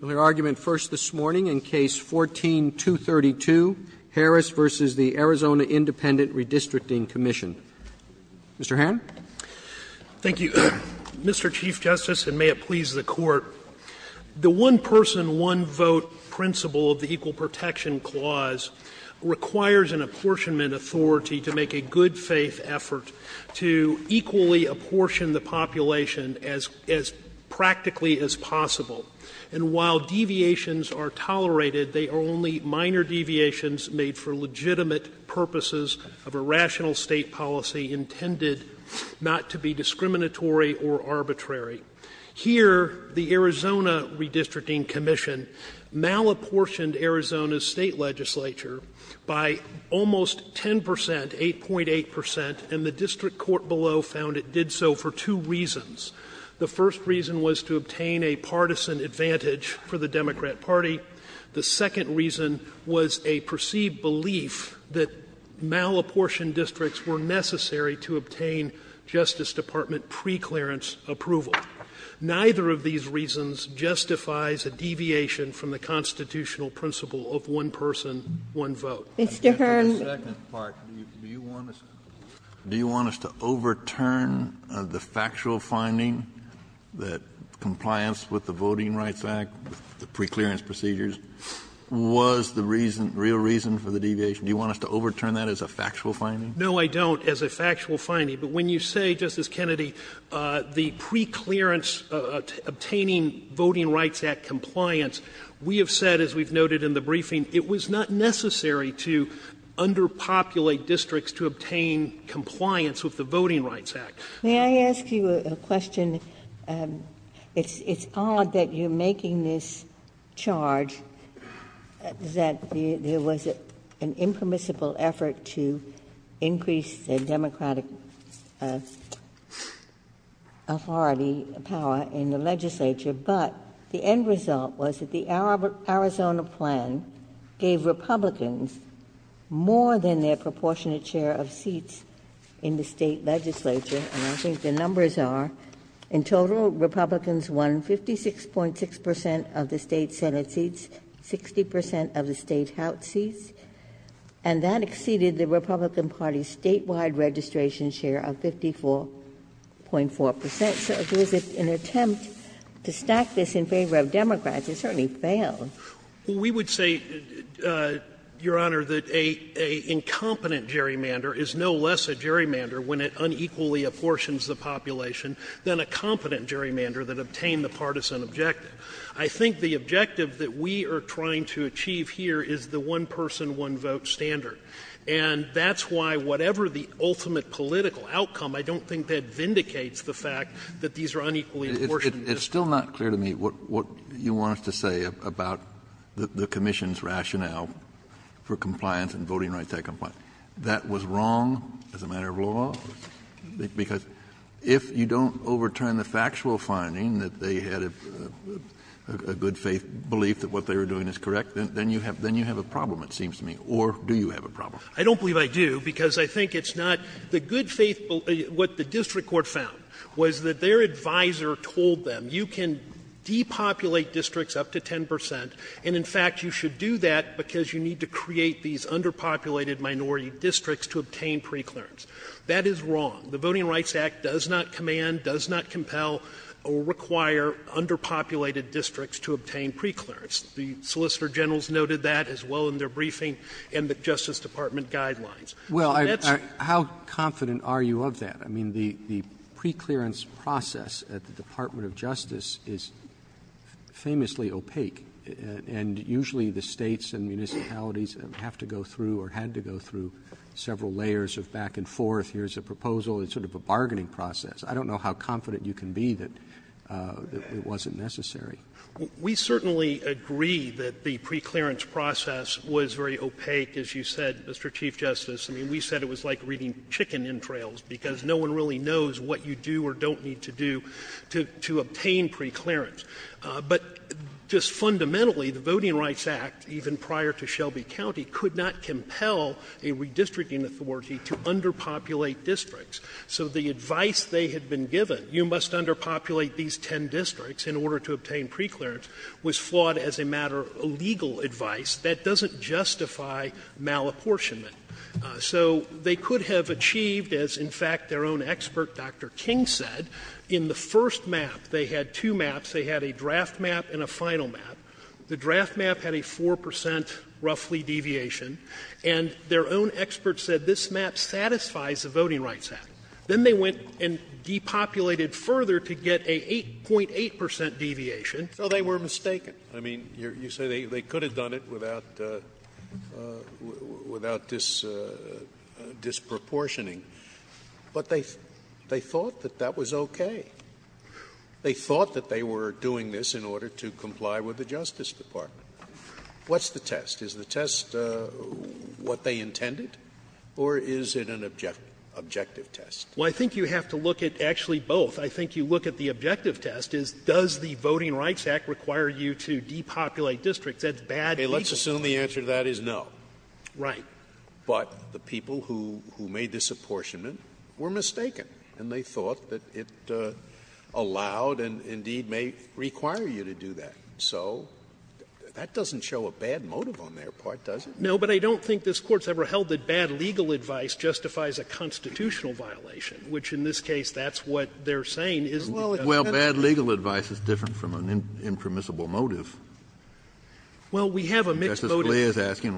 Mr. Hannon. Mr. Chief Justice, and may it please the Court, the one-person, one-vote principle of the Equal Protection Clause requires an apportionment authority to make a good faith effort to equally apportion the population as practically as possible. And while deviations are tolerated, they are only minor deviations made for legitimate purposes of a rational State policy intended not to be discriminatory or arbitrary. Here, the Arizona Redistricting Commission malapportioned Arizona's State legislature by almost 10 percent, 8.8 percent, and the district court below found it did so for two reasons. The first reason was to obtain a partisan advantage for the Democrat Party. The second reason was a perceived belief that malapportioned districts were necessary to obtain Justice Department preclearance approval. Neither of these reasons justifies a deviation from the constitutional principle of one-person, one-vote. Sotomayor, do you want us to overturn the factual finding that compliance with the Voting Rights Act, the preclearance procedures, was the reason, real reason for the deviation? Do you want us to overturn that as a factual finding? No, I don't, as a factual finding. But when you say, Justice Kennedy, the preclearance obtaining Voting Rights Act compliance, we have said, as we've noted in the briefing, it was not necessary to underpopulate districts to obtain compliance with the Voting Rights Act. May I ask you a question? It's odd that you're making this charge that there was an impermissible effort to increase the Democratic authority power in the legislature, but the end result was that the Arizona plan gave Republicans more than their proportionate share of seats in the State legislature. And I think the numbers are, in total, Republicans won 56.6 percent of the State Senate seats, 60 percent of the State House seats, and that exceeded the Republican Party's statewide registration share of 54.4 percent. If there was an attempt to stack this in favor of Democrats, it certainly failed. Well, we would say, Your Honor, that an incompetent gerrymander is no less a gerrymander when it unequally apportions the population than a competent gerrymander that obtained the partisan objective. I think the objective that we are trying to achieve here is the one-person, one-vote standard. And that's why, whatever the ultimate political outcome, I don't think that vindicates the fact that these are unequally apportioned. Kennedy, it's still not clear to me what you want us to say about the commission's rationale for compliance and voting rights that comply. That was wrong as a matter of law? Because if you don't overturn the factual finding that they had a good-faith belief that what they were doing is correct, then you have a problem, it seems to me. Or do you have a problem? I don't believe I do, because I think it's not the good-faith belief, what the district court found was that their advisor told them, you can depopulate districts up to 10 percent, and, in fact, you should do that because you need to create these underpopulated minority districts to obtain preclearance. That is wrong. The Voting Rights Act does not command, does not compel or require underpopulated districts to obtain preclearance. The solicitor generals noted that as well in their briefing and the Justice Department guidelines. So that's wrong. Roberts, how confident are you of that? I mean, the preclearance process at the Department of Justice is famously opaque. And usually the States and municipalities have to go through or had to go through several layers of back and forth. Here's a proposal. It's sort of a bargaining process. I don't know how confident you can be that it wasn't necessary. We certainly agree that the preclearance process was very opaque, as you said, Mr. Chief Justice. I mean, we said it was like reading chicken entrails because no one really knows what you do or don't need to do to obtain preclearance. But just fundamentally, the Voting Rights Act, even prior to Shelby County, could not compel a redistricting authority to underpopulate districts. So the advice they had been given, you must underpopulate these 10 districts in order to obtain preclearance, was flawed as a matter of legal advice that doesn't justify malapportionment. So they could have achieved, as in fact their own expert, Dr. King, said, in the first map they had two maps. They had a draft map and a final map. The draft map had a 4 percent, roughly, deviation. And their own expert said this map satisfies the Voting Rights Act. Then they went and depopulated further to get a 8.8 percent deviation, so they were mistaken. I mean, you say they could have done it without disproportioning, but they thought that that was okay. They thought that they were doing this in order to comply with the Justice Department. What's the test? Is the test what they intended, or is it an objective test? Well, I think you have to look at actually both. I think you look at the objective test, is does the Voting Rights Act require you to depopulate districts? That's bad legal advice. Scalia. Let's assume the answer to that is no. Right. But the people who made this apportionment were mistaken, and they thought that it allowed and indeed may require you to do that. So that doesn't show a bad motive on their part, does it? No, but I don't think this Court's ever held that bad legal advice justifies a constitutional violation, which, in this case, that's what they're saying is the test. Well, bad legal advice is different from an impermissible motive. Well, we have a mixed motive. Justice Scalia is asking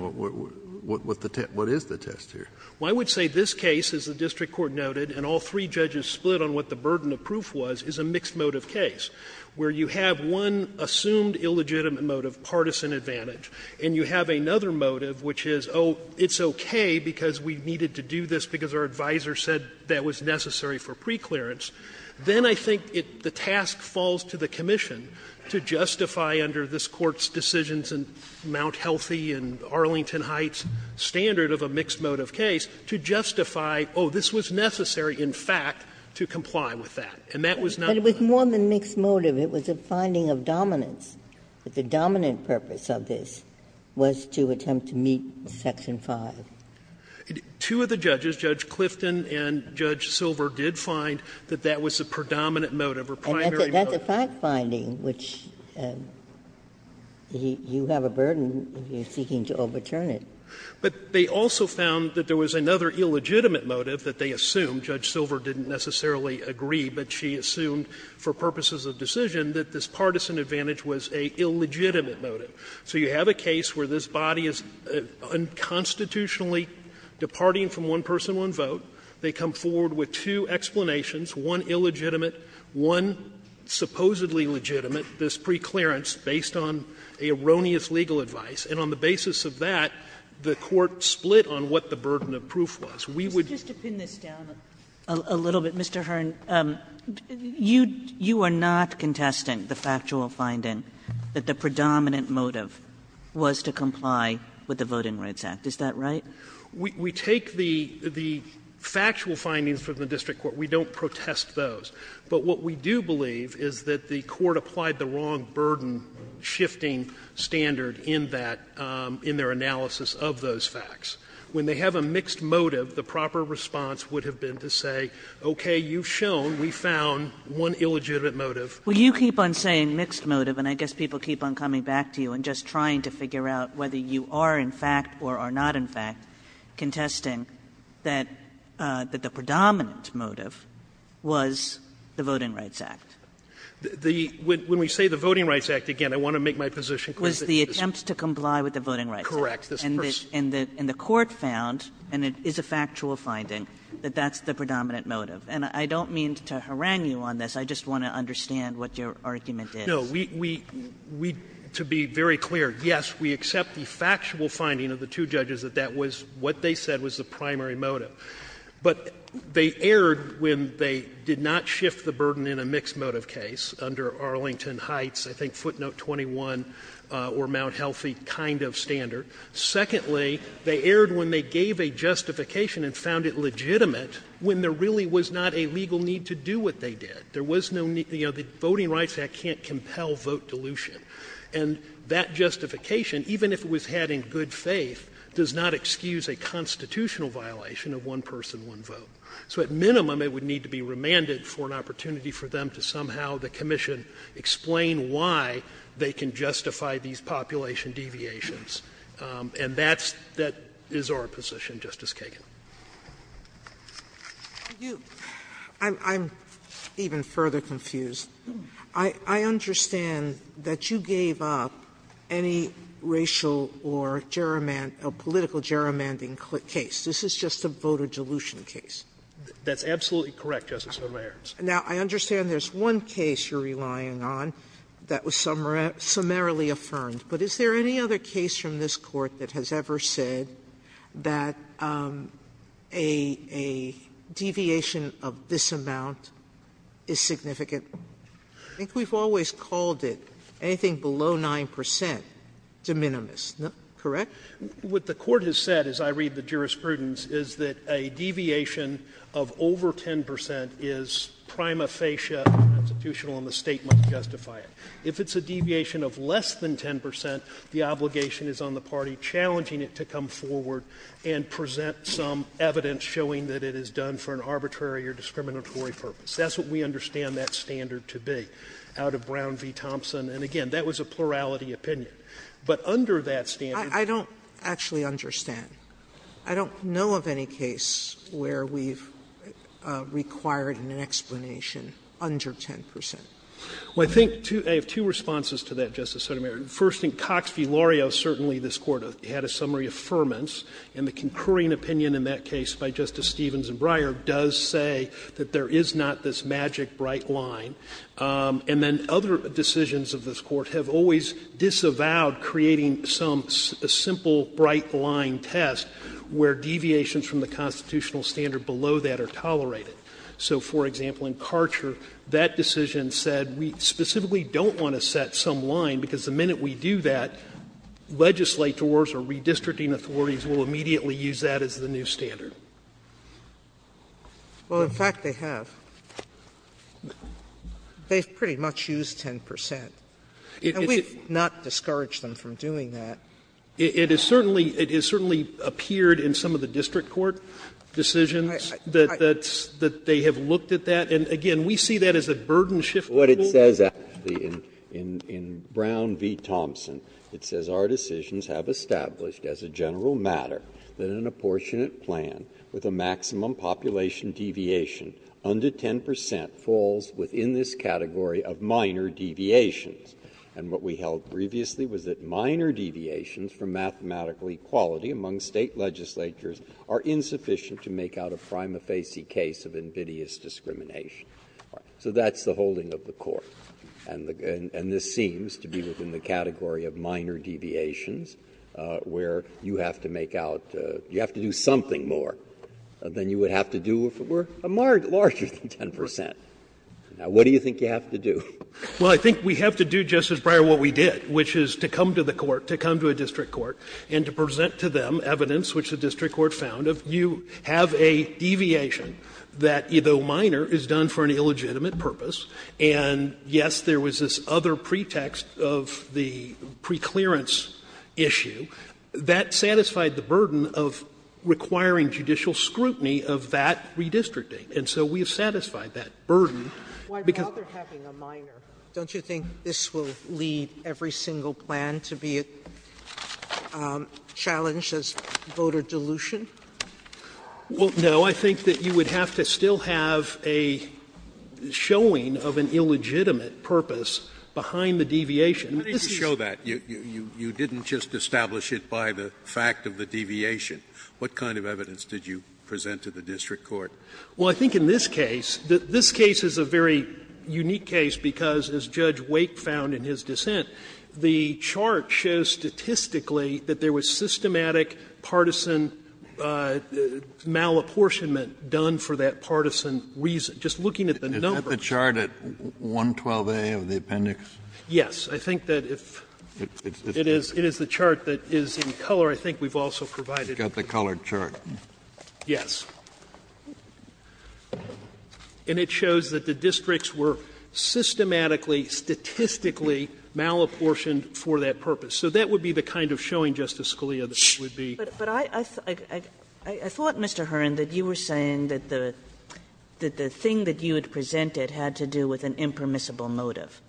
what is the test here. Well, I would say this case, as the district court noted, and all three judges split on what the burden of proof was, is a mixed motive case, where you have one assumed illegitimate motive, partisan advantage, and you have another motive, which is, oh, it's okay because we needed to do this because our advisor said that was necessary for preclearance. Then I think it the task falls to the commission to justify under this Court's decisions in Mount Healthy and Arlington Heights standard of a mixed motive case to justify, oh, this was necessary, in fact, to comply with that. And that was not a good one. But it was more than mixed motive. It was a finding of dominance. But the dominant purpose of this was to attempt to meet Section 5. Two of the judges, Judge Clifton and Judge Silver, did find that that was the predominant motive or primary motive. And that's a fact-finding, which you have a burden if you're seeking to overturn it. But they also found that there was another illegitimate motive that they assumed Judge Silver didn't necessarily agree, but she assumed for purposes of decision that this partisan advantage was a illegitimate motive. So you have a case where this body is unconstitutionally departing from one person one vote. They come forward with two explanations, one illegitimate, one supposedly legitimate, this preclearance based on erroneous legal advice. And on the basis of that, the Court split on what the burden of proof was. We would do this. Kagan, let me just down a little bit. Mr. Hearn, you, you are not contesting the factual finding that the predominant motive was to comply with the Voting Rights Act. Is that right? Hearn, we take the factual findings from the district court. We don't protest those. But what we do believe is that the court applied the wrong burden-shifting standard in that, in their analysis of those facts. When they have a mixed motive, the proper response would have been to say, okay, you've shown we found one illegitimate motive. Kagan, you keep on saying mixed motive, and I guess people keep on coming back to you and just trying to figure out whether you are in fact or are not in fact contesting that the predominant motive was the Voting Rights Act. The – when we say the Voting Rights Act, again, I want to make my position clear. Was the attempt to comply with the Voting Rights Act. Correct. And the court found, and it is a factual finding, that that's the predominant motive. And I don't mean to harangue you on this. I just want to understand what your argument is. No. We, to be very clear, yes, we accept the factual finding of the two judges that that was what they said was the primary motive. But they erred when they did not shift the burden in a mixed motive case under Arlington Heights, I think footnote 21, or Mount Healthy kind of standard. Secondly, they erred when they gave a justification and found it legitimate when there really was not a legal need to do what they did. There was no need – you know, the Voting Rights Act can't compel vote dilution. And that justification, even if it was had in good faith, does not excuse a constitutional violation of one person, one vote. So at minimum, it would need to be remanded for an opportunity for them to somehow the commission explain why they can justify these population deviations. And that's – that is our position, Justice Kagan. Sotomayor, I'm even further confused. I understand that you gave up any racial or political gerrymandering case. This is just a vote dilution case. That's absolutely correct, Justice Sotomayor. Now, I understand there's one case you're relying on that was summarily affirmed. But is there any other case from this Court that has ever said that a deviation of this amount is significant? I think we've always called it anything below 9 percent de minimis. Correct? What the Court has said, as I read the jurisprudence, is that a deviation of over 10 percent is prima facie constitutional and the State must justify it. If it's a deviation of less than 10 percent, the obligation is on the party challenging it to come forward and present some evidence showing that it is done for an arbitrary or discriminatory purpose. That's what we understand that standard to be, out of Brown v. Thompson. And, again, that was a plurality opinion. But under that standard you can't do that. Sotomayor, I don't actually understand. I don't know of any case where we've required an explanation under 10 percent. Well, I think I have two responses to that, Justice Sotomayor. First, in Cox v. Loreo, certainly this Court had a summary affirmance, and the concurring opinion in that case by Justice Stevens and Breyer does say that there is not this magic bright line. And then other decisions of this Court have always disavowed creating some simple bright line test where deviations from the constitutional standard below that are tolerated. So, for example, in Karcher, that decision said we specifically don't want to set some line, because the minute we do that, legislators or redistricting authorities will immediately use that as the new standard. Sotomayor, Well, in fact, they have. They've pretty much used 10 percent, and we've not discouraged them from doing that. It has certainly appeared in some of the district court decisions that they have looked at that. And, again, we see that as a burden-shifting rule. Breyer, what it says in Brown v. Thompson, it says, Our decisions have established, as a general matter, that an apportionate plan with a maximum population deviation under 10 percent falls within this category of minor deviations. And what we held previously was that minor deviations from mathematical equality among State legislatures are insufficient to make out a prima facie case of invidious discrimination. So that's the holding of the Court. And this seems to be within the category of minor deviations, where you have to make out you have to do something more than you would have to do if it were a larger than 10 percent. Now, what do you think you have to do? Well, I think we have to do, Justice Breyer, what we did, which is to come to the Court, to come to a district court, and to present to them evidence which the district court found of you have a deviation that, though minor, is done for an illegitimate purpose. And, yes, there was this other pretext of the preclearance issue. That satisfied the burden of requiring judicial scrutiny of that redistricting. And so we have satisfied that burden because of how they're having a minor. Don't you think this will lead every single plan to be challenged as voter dilution? Well, no. I think that you would have to still have a showing of an illegitimate purpose behind the deviation. This is you didn't just establish it by the fact of the deviation. What kind of evidence did you present to the district court? Well, I think in this case, this case is a very unique case because, as Judge Wake found in his dissent, the chart shows statistically that there was systematic partisan malapportionment done for that partisan reason. Just looking at the number. Kennedy, is that the chart at 112A of the appendix? Yes. I think that if it is the chart that is in color, I think we've also provided the color chart. Yes. And it shows that the districts were systematically, statistically malapportioned for that purpose. So that would be the kind of showing, Justice Scalia, that would be. But I thought, Mr. Hearn, that you were saying that the thing that you had presented had to do with an impermissible motive,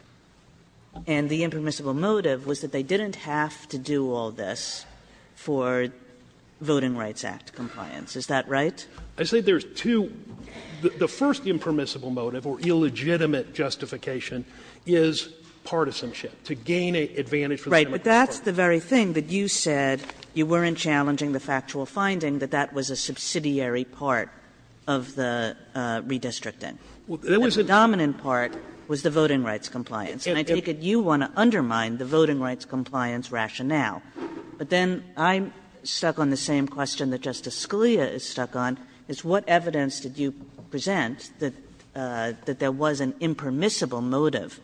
and the impermissible motive was that they didn't have to do all this for Voting Rights Act compliance. Is that right? I say there's two. The first impermissible motive or illegitimate justification is partisanship, to gain an advantage for the district court. Right. But that's the very thing that you said you weren't challenging the factual finding, that that was a subsidiary part of the redistricting. Well, there was a dominant part was the voting rights compliance. And I take it you want to undermine the voting rights compliance rationale. But then I'm stuck on the same question that Justice Scalia is stuck on, is what evidence did you present that there was an impermissible motive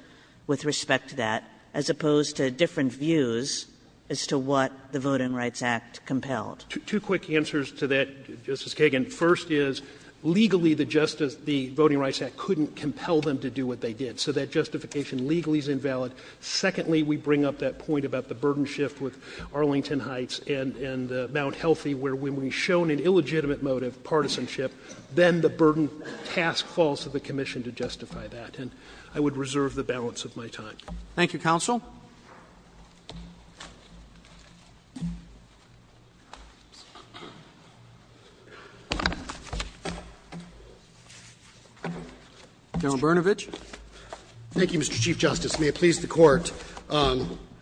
with respect to that, as opposed to different views as to what the Voting Rights Act compelled? Two quick answers to that, Justice Kagan. First is, legally, the voting rights act couldn't compel them to do what they did. So that justification legally is invalid. Secondly, we bring up that point about the burden shift with Arlington Heights and Mount Healthy, where when we've shown an illegitimate motive, partisanship, then the burden task falls to the commission to justify that. And I would reserve the balance of my time. Thank you, counsel. General Bernovich. Thank you, Mr. Chief Justice. May it please the Court.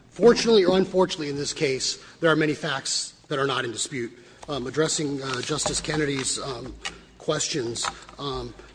Fortunately or unfortunately in this case, there are many facts that are not in dispute. Addressing Justice Kennedy's questions,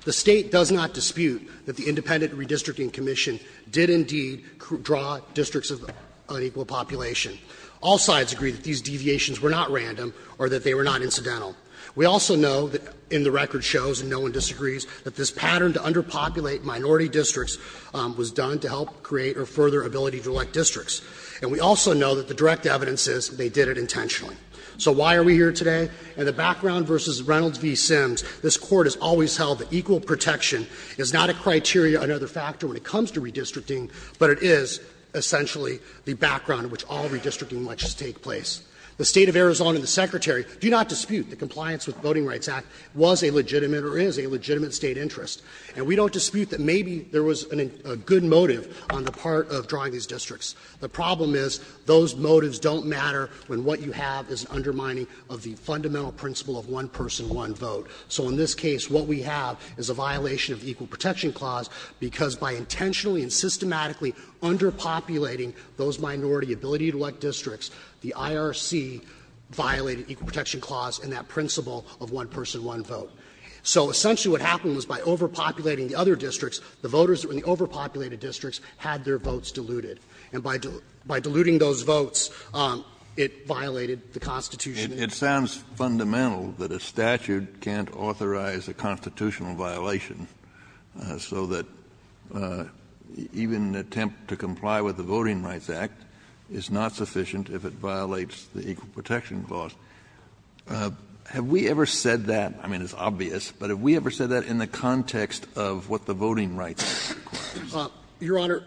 the State does not dispute that the Independent Redistricting Commission did indeed draw districts of unequal population. All sides agree that these deviations were not random or that they were not incidental. We also know that in the record shows, and no one disagrees, that this pattern to underpopulate minority districts was done to help create or further ability to elect districts. And we also know that the direct evidence is they did it intentionally. So why are we here today? In the background versus Reynolds v. Sims, this court has always held that equal protection is not a criteria or another factor when it comes to redistricting, but it is essentially the background in which all redistricting elections take place. The State of Arizona and the Secretary do not dispute that compliance with Voting Rights Act was a legitimate or is a legitimate state interest. And we don't dispute that maybe there was a good motive on the part of drawing these districts. The problem is those motives don't matter when what you have is undermining of the fundamental principle of one person, one vote. So in this case, what we have is a violation of the Equal Protection Clause, because by intentionally and systematically underpopulating those minority ability to elect districts, the IRC violated Equal Protection Clause and that principle of one person, one vote. So essentially what happened was by overpopulating the other districts, the voters in the overpopulated districts had their votes diluted. And by diluting those votes, it violated the Constitution. Kennedy, it sounds fundamental that a statute can't authorize a constitutional violation so that even an attempt to comply with the Voting Rights Act is not sufficient if it violates the Equal Protection Clause. Have we ever said that, I mean, it's obvious, but have we ever said that in the context of what the Voting Rights Act requires? Mann, Your Honor,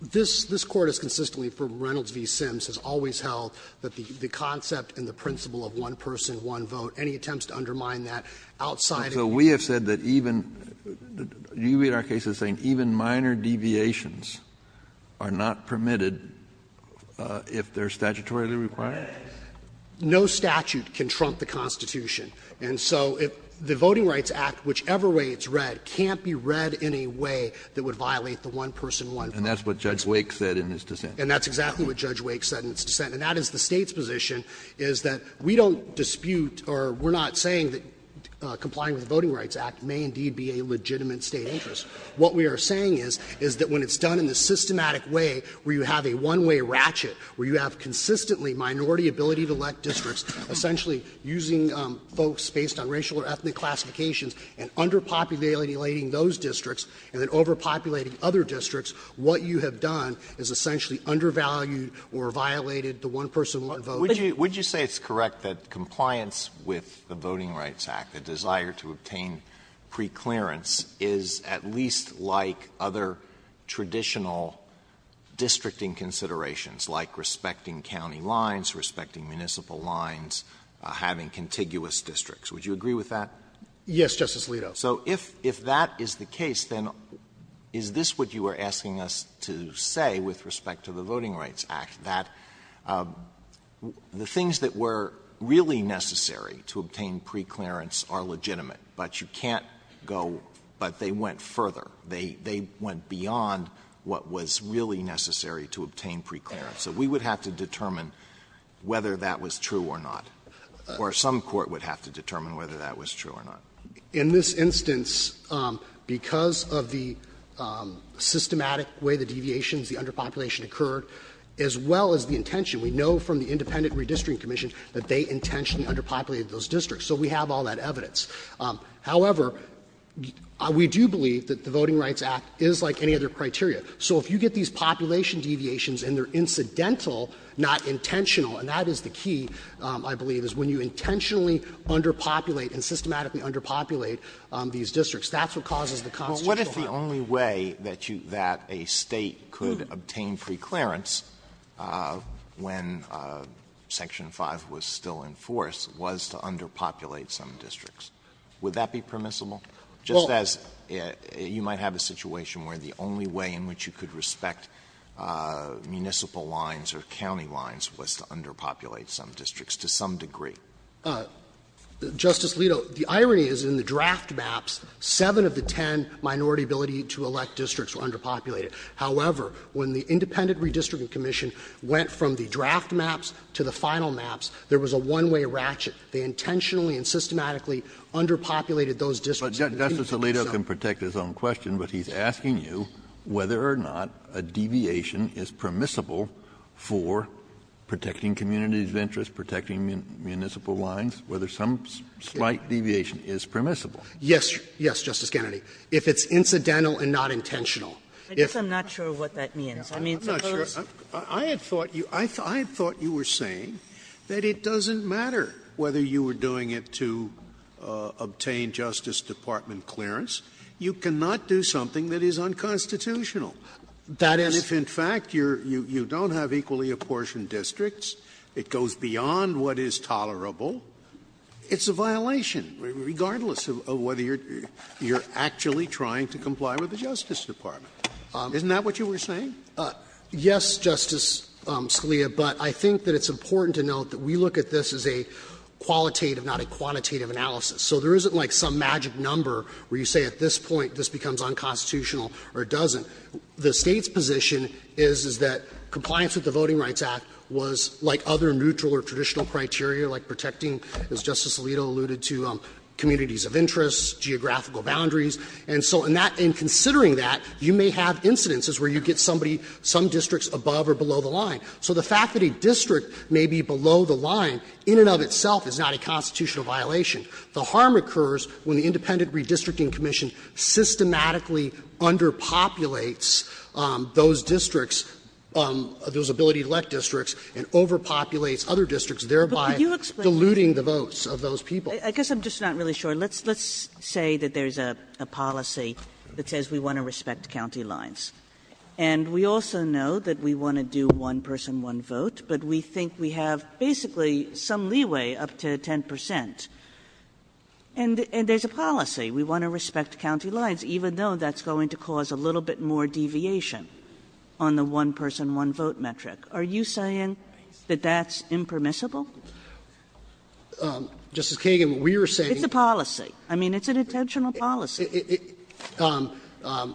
this Court has consistently, from Reynolds v. Sims, has always held that the concept and the principle of one person, one vote, any attempts to undermine that outside of the United States. Kennedy, so we have said that even, you read our case as saying even minor deviations are not permitted if they are statutorily required? Mann, Your Honor, no statute can trump the Constitution. And so the Voting Rights Act, whichever way it's read, can't be read in a way that would violate the one person, one vote. Kennedy, and that's what Judge Wake said in his dissent. Mann, And that's exactly what Judge Wake said in his dissent. And that is the State's position, is that we don't dispute or we're not saying that complying with the Voting Rights Act may indeed be a legitimate State interest. What we are saying is, is that when it's done in a systematic way where you have a one-way ratchet, where you have consistently minority ability to elect districts, essentially using folks based on racial or ethnic classifications, and underpopulating those districts, and then overpopulating other districts, what you have done is essentially undervalued or violated the one person, one vote. Alito, would you say it's correct that compliance with the Voting Rights Act, the desire to obtain preclearance, is at least like other traditional districting considerations, like respecting county lines, respecting municipal lines, having contiguous districts? Would you agree with that? Mann, Yes, Justice Alito. Alito, so if that is the case, then is this what you are asking us to say with respect to the Voting Rights Act, that the things that were really necessary to obtain preclearance are legitimate, but you can't go but they went further. They went beyond what was really necessary to obtain preclearance. So we would have to determine whether that was true or not, or some court would have to determine whether that was true or not. Mann, In this instance, because of the systematic way the deviations, the underpopulation occurred, as well as the intention, we know from the Independent Redistricting Commission that they intentionally underpopulated those districts. So we have all that evidence. However, we do believe that the Voting Rights Act is like any other criteria. So if you get these population deviations and they are incidental, not intentional, and that is the key, I believe, is when you intentionally underpopulate and systematically underpopulate these districts, that's what causes the constitutional harm. Alito, well, what if the only way that you that a State could obtain preclearance when Section 5 was still in force was to underpopulate some districts? Would that be permissible? Just as you might have a situation where the only way in which you could respect municipal lines or county lines was to underpopulate some districts to some degree. Mann, Justice Alito, the irony is in the draft maps, 7 of the 10 minority ability to elect districts were underpopulated. However, when the Independent Redistricting Commission went from the draft maps to the final maps, there was a one-way ratchet. They intentionally and systematically underpopulated those districts. Kennedy, Justice Alito can protect his own question, but he's asking you whether or not a deviation is permissible for protecting communities' interests, protecting municipal lines, whether some slight deviation is permissible. Yes. Yes, Justice Kennedy. If it's incidental and not intentional. If I'm not sure what that means. I mean, suppose. I had thought you were saying that it doesn't matter whether you were doing it to obtain Justice Department clearance. You cannot do something that is unconstitutional. That is. If in fact you don't have equally apportioned districts, it goes beyond what is tolerable, it's a violation, regardless of whether you're actually trying to comply with the jurisdiction of Justice Department. Isn't that what you were saying? Yes, Justice Scalia, but I think that it's important to note that we look at this as a qualitative, not a quantitative analysis. So there isn't like some magic number where you say at this point this becomes unconstitutional or it doesn't. The State's position is, is that compliance with the Voting Rights Act was like other neutral or traditional criteria, like protecting, as Justice Alito alluded to, communities of interest, geographical boundaries. And so in that, in considering that, you may have incidences where you get somebody, some districts above or below the line. So the fact that a district may be below the line in and of itself is not a constitutional violation. The harm occurs when the Independent Redistricting Commission systematically underpopulates those districts, those ability-to-elect districts, and overpopulates other districts, thereby diluting the votes of those people. Kagan, I guess I'm just not really sure. Let's say that there's a policy that says we want to respect county lines. And we also know that we want to do one-person, one-vote, but we think we have basically some leeway up to 10 percent. And there's a policy, we want to respect county lines, even though that's going to cause a little bit more deviation on the one-person, one-vote metric. Are you saying that that's impermissible? Kagan, we are saying that it's a policy. I mean, it's an intentional policy.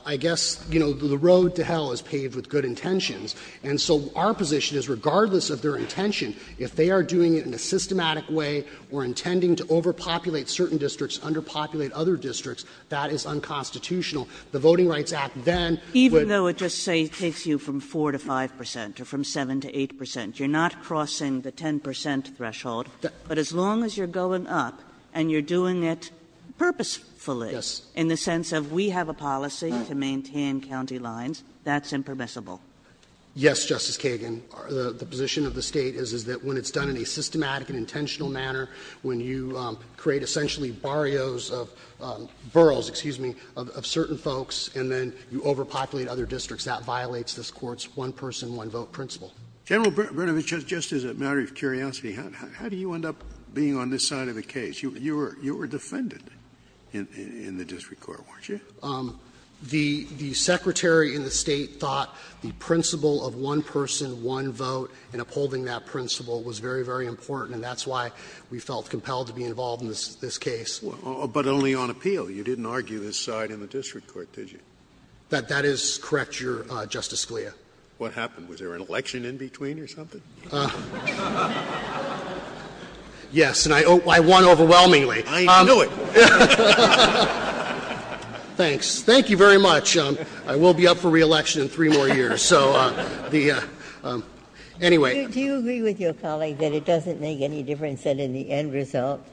I guess, you know, the road to hell is paved with good intentions. And so our position is, regardless of their intention, if they are doing it in a systematic way or intending to overpopulate certain districts, underpopulate other districts, that is unconstitutional. The Voting Rights Act then would. Even though it just, say, takes you from 4 to 5 percent or from 7 to 8 percent? You're not crossing the 10 percent threshold. But as long as you're going up and you're doing it purposefully, in the sense of we have a policy to maintain county lines, that's impermissible. Yes, Justice Kagan. The position of the State is that when it's done in a systematic and intentional manner, when you create essentially barrios of burrows, excuse me, of certain folks, and then you overpopulate other districts, that violates this Court's one-person, one-vote principle. Scalia, just as a matter of curiosity, how do you end up being on this side of the case? You were defended in the district court, weren't you? The Secretary and the State thought the principle of one-person, one-vote and upholding that principle was very, very important, and that's why we felt compelled to be involved in this case. But only on appeal. You didn't argue this side in the district court, did you? That is correct, Justice Scalia. What happened? Was there an election in between or something? Yes, and I won overwhelmingly. I knew it. Thanks. Thank you very much. I will be up for re-election in three more years. So the anyway. Do you agree with your colleague that it doesn't make any difference that in the end result,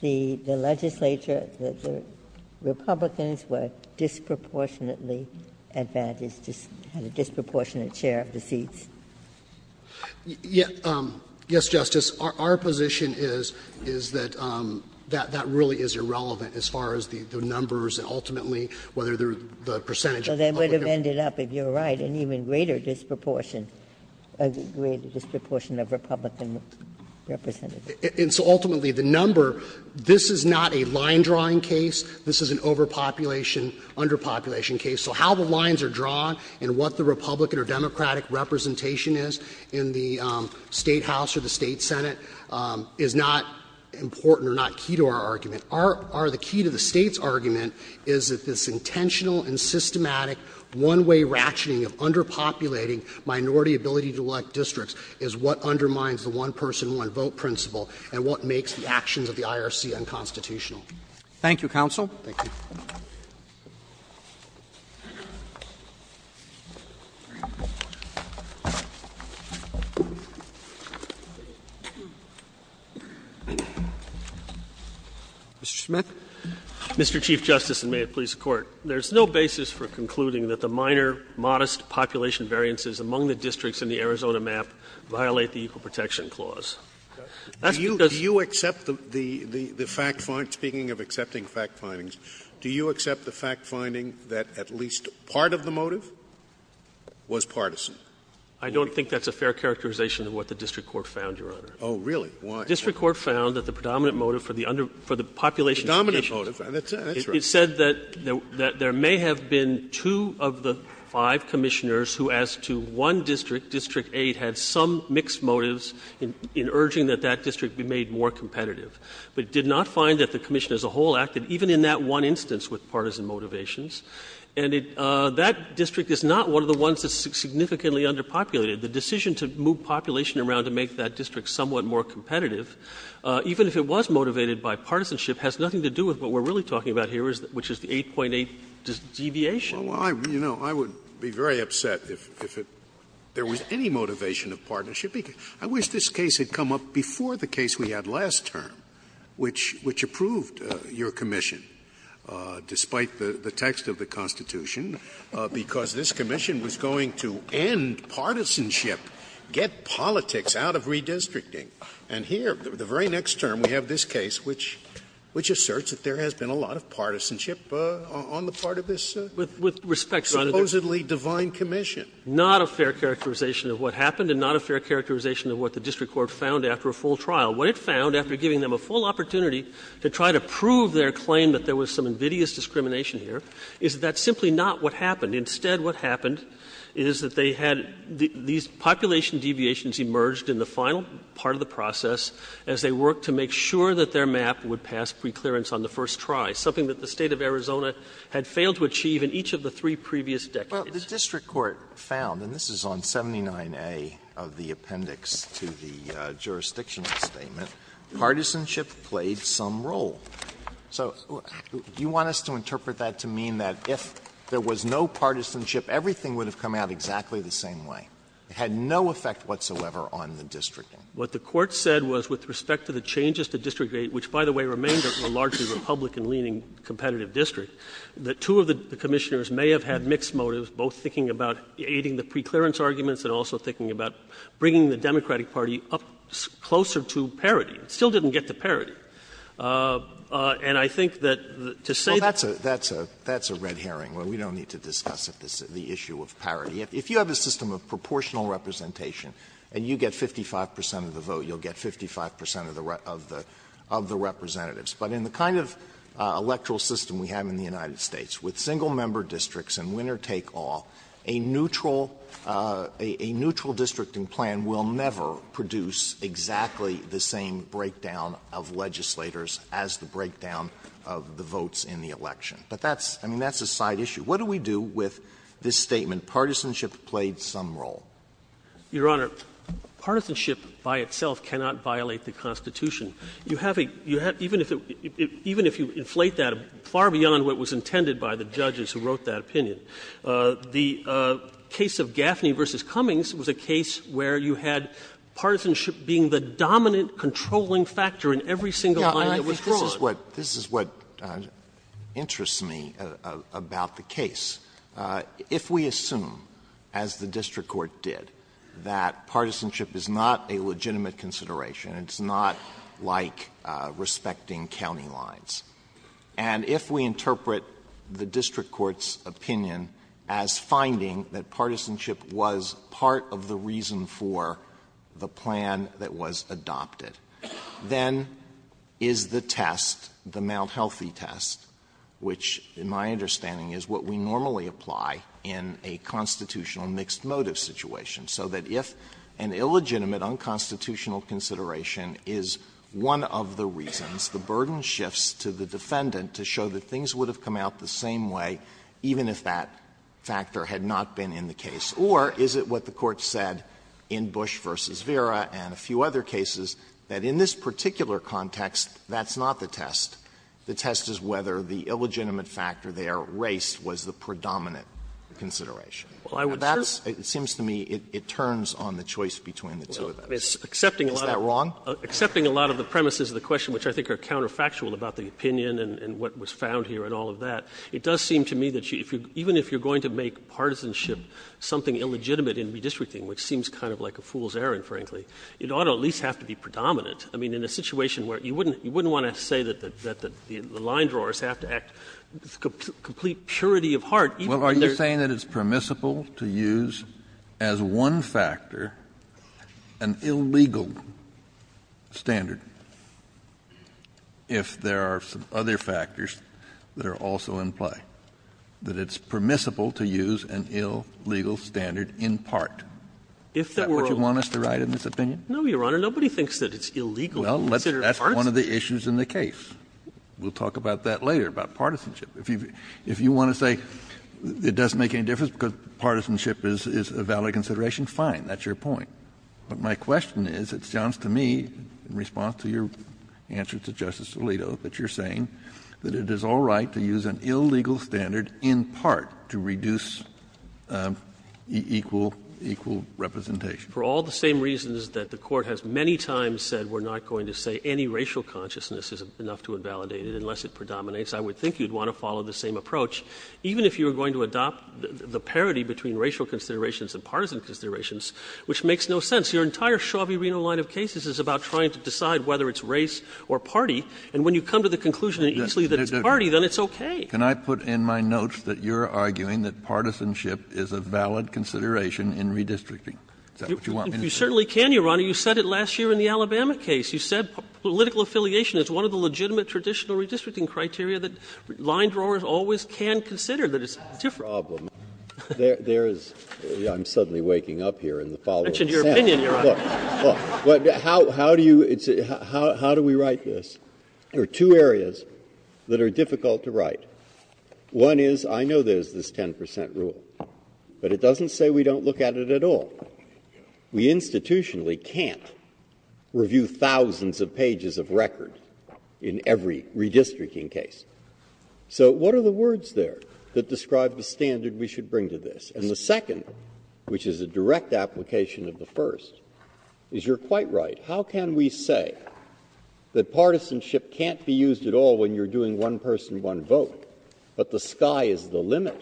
the legislature, the Republicans were disproportionately advantaged, just had a disproportionate share of the seats? Yes, Justice. Our position is that that really is irrelevant as far as the numbers and ultimately whether the percentage of the public. So they would have ended up, if you're right, an even greater disproportion of the Republican representatives. And so ultimately, the number, this is not a line-drawing case, this is an overpopulation, underpopulation case. So how the lines are drawn and what the Republican or Democratic representation is in the State House or the State Senate is not important or not key to our argument. Our, the key to the State's argument is that this intentional and systematic one-way ratcheting of underpopulating minority ability to elect districts is what undermines the one-person, one-vote principle and what makes the actions of the IRC unconstitutional. Thank you, counsel. Thank you. Mr. Smith. Mr. Chief Justice, and may it please the Court, there is no basis for concluding that the minor, modest population variances among the districts in the Arizona map violate the Equal Protection Clause. That's because the fact findings, speaking of accepting fact findings, the fact findings, do you accept the fact finding that at least part of the motive was partisan? I don't think that's a fair characterization of what the district court found, Your Honor. Oh, really? Why? The district court found that the predominant motive for the population conditions Predominant motive. That's right. It said that there may have been two of the five commissioners who asked to one district, District 8, had some mixed motives in urging that that district be made more competitive, but did not find that the commission as a whole acted, even in that one instance, with partisan motivations. And that district is not one of the ones that's significantly underpopulated. The decision to move population around to make that district somewhat more competitive, even if it was motivated by partisanship, has nothing to do with what we're really talking about here, which is the 8.8 deviation. Well, I would be very upset if there was any motivation of partnership. I wish this case had come up before the case we had last term, which approved your commission, despite the text of the Constitution, because this commission was going to end partisanship, get politics out of redistricting. And here, the very next term, we have this case which asserts that there has been a lot of partisanship on the part of this supposedly divine commission. With respect, Your Honor, not a fair characterization of what happened and not a fair characterization of what the district court found after a full trial. What it found, after giving them a full opportunity to try to prove their claim that there was some invidious discrimination here, is that's simply not what happened. Instead, what happened is that they had these population deviations emerged in the final part of the process as they worked to make sure that their map would pass pre-clearance on the first try, something that the State of Arizona had failed to achieve in each of the three previous decades. Alito, the district court found, and this is on 79A of the appendix to the jurisdictional statement, partisanship played some role. So do you want us to interpret that to mean that if there was no partisanship, everything would have come out exactly the same way? It had no effect whatsoever on the districting. What the court said was, with respect to the changes to district 8, which, by the way, remained a largely Republican-leaning competitive district, that two of the parties were both thinking about aiding the pre-clearance arguments and also thinking about bringing the Democratic Party up closer to parity. It still didn't get to parity. And I think that to say that's a red herring. We don't need to discuss the issue of parity. If you have a system of proportional representation and you get 55 percent of the vote, you'll get 55 percent of the representatives. But in the kind of electoral system we have in the United States, with single-member districts and winner-take-all, a neutral districting plan will never produce exactly the same breakdown of legislators as the breakdown of the votes in the election. But that's, I mean, that's a side issue. What do we do with this statement, partisanship played some role? Your Honor, partisanship by itself cannot violate the Constitution. You have a, you have, even if you inflate that far beyond what was intended by the Supreme Court in that opinion, the case of Gaffney v. Cummings was a case where you had partisanship being the dominant controlling factor in every single line that was drawn. Alito, this is what, this is what interests me about the case. If we assume, as the district court did, that partisanship is not a legitimate consideration, it's not like respecting county lines, and if we interpret the district court's opinion as finding that partisanship was part of the reason for the plan that was adopted, then is the test, the Mount Healthy test, which in my understanding is what we normally apply in a constitutional mixed motive situation, so that if an illegitimate unconstitutional consideration is one of the reasons, the burden shifts to the defendant to show that things would have come out the same way even if that factor had not been in the case, or is it what the Court said in Bush v. Vera and a few other cases, that in this particular context, that's not the test. The test is whether the illegitimate factor there, race, was the predominant consideration. And that's, it seems to me, it turns on the choice between the two of them. Is that wrong? Accepting a lot of the premises of the question, which I think are counterfactual about the opinion and what was found here and all of that, it does seem to me that even if you're going to make partisanship something illegitimate in redistricting, which seems kind of like a fool's errand, frankly, it ought to at least have to be predominant. I mean, in a situation where you wouldn't want to say that the line drawers have to act with complete purity of heart, even when there's not. Kennedy, if there are some other factors that are also in play, that it's permissible to use an illegal standard in part, is that what you want us to write in this opinion? No, Your Honor. Nobody thinks that it's illegal to consider partisanship. Well, that's one of the issues in the case. We'll talk about that later, about partisanship. If you want to say it doesn't make any difference because partisanship is a valid consideration, fine, that's your point. But my question is, it sounds to me, in response to your answer to Justice Alito, that you're saying that it is all right to use an illegal standard in part to reduce equal representation. For all the same reasons that the Court has many times said we're not going to say any racial consciousness is enough to invalidate it, unless it predominates, I would think you'd want to follow the same approach, even if you were going to adopt the parity between racial considerations and partisan considerations, which makes no sense. Your entire Shaw v. Reno line of cases is about trying to decide whether it's race or party, and when you come to the conclusion easily that it's party, then it's okay. Can I put in my notes that you're arguing that partisanship is a valid consideration in redistricting? Is that what you want me to say? You certainly can, Your Honor. You said it last year in the Alabama case. You said political affiliation is one of the legitimate traditional redistricting criteria that line-drawers always can consider, that it's different. Well, there's a problem. There is — I'm suddenly waking up here in the following sense. I mentioned your opinion, Your Honor. Look, look. How do you — how do we write this? There are two areas that are difficult to write. One is, I know there's this 10 percent rule, but it doesn't say we don't look at it at all. We institutionally can't review thousands of pages of record in every redistricting case. So what are the words there that describe the standard we should bring to this? And the second, which is a direct application of the first, is you're quite right. How can we say that partisanship can't be used at all when you're doing one-person, one-vote, but the sky is the limit,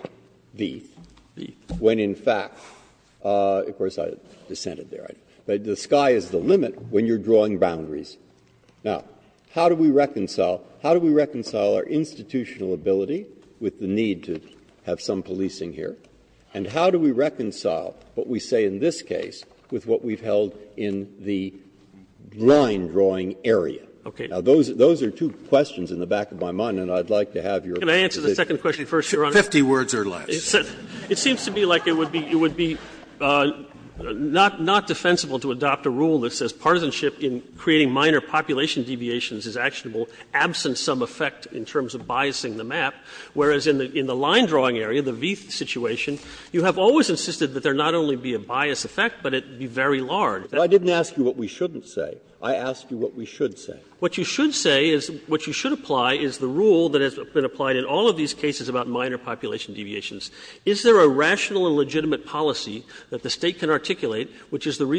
when in fact — of course, I dissented there, but the sky is the limit when you're drawing boundaries. Now, how do we reconcile — how do we reconcile our institutional ability with the need to have some policing here, and how do we reconcile what we say in this case with what we've held in the line-drawing area? Okay. Now, those are two questions in the back of my mind, and I'd like to have your position. Can I answer the second question first, Your Honor? Fifty words or less. It seems to me like it would be not defensible to adopt a rule that says partisanship in creating minor population deviations is actionable, absent some effect in terms of biasing the map, whereas in the line-drawing area, the Vieth situation, you have always insisted that there not only be a bias effect, but it be very large. I didn't ask you what we shouldn't say. I asked you what we should say. What you should say is — what you should apply is the rule that has been applied in all of these cases about minor population deviations. Is there a rational and legitimate policy that the State can articulate, which is the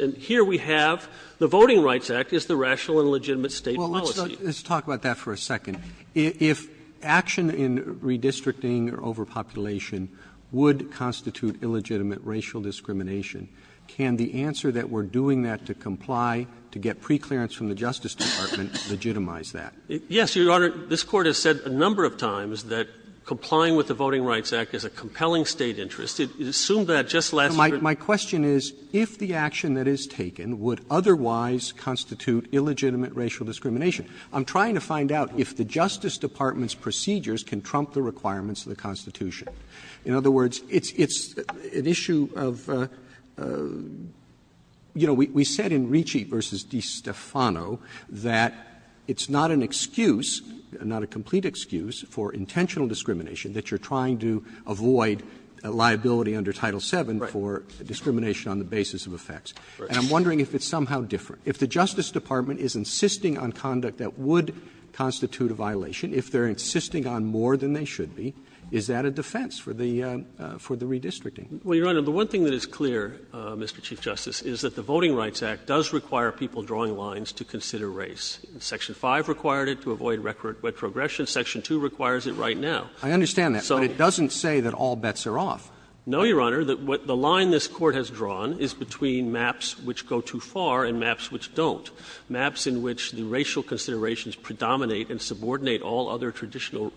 And here we have the Voting Rights Act is the rational and legitimate State policy. Well, let's talk about that for a second. If action in redistricting overpopulation would constitute illegitimate racial discrimination, can the answer that we're doing that to comply, to get preclearance from the Justice Department, legitimize that? Yes, Your Honor. This Court has said a number of times that complying with the Voting Rights Act is a compelling State interest. It assumed that just last year. My question is, if the action that is taken would otherwise constitute illegitimate racial discrimination, I'm trying to find out if the Justice Department's procedures can trump the requirements of the Constitution. In other words, it's an issue of — you know, we said in Ricci v. DeStefano that it's not an excuse, not a complete excuse, for intentional discrimination that you're trying to avoid liability under Title VII for discrimination on the basis of effects. And I'm wondering if it's somehow different. If the Justice Department is insisting on conduct that would constitute a violation, if they're insisting on more than they should be, is that a defense for the redistricting? Well, Your Honor, the one thing that is clear, Mr. Chief Justice, is that the Voting Rights Act does require people drawing lines to consider race. Section 5 required it to avoid retrogression. Section 2 requires it right now. I understand that, but it doesn't say that all bets are off. No, Your Honor. The line this Court has drawn is between maps which go too far and maps which don't, maps in which the racial considerations predominate and subordinate all other traditional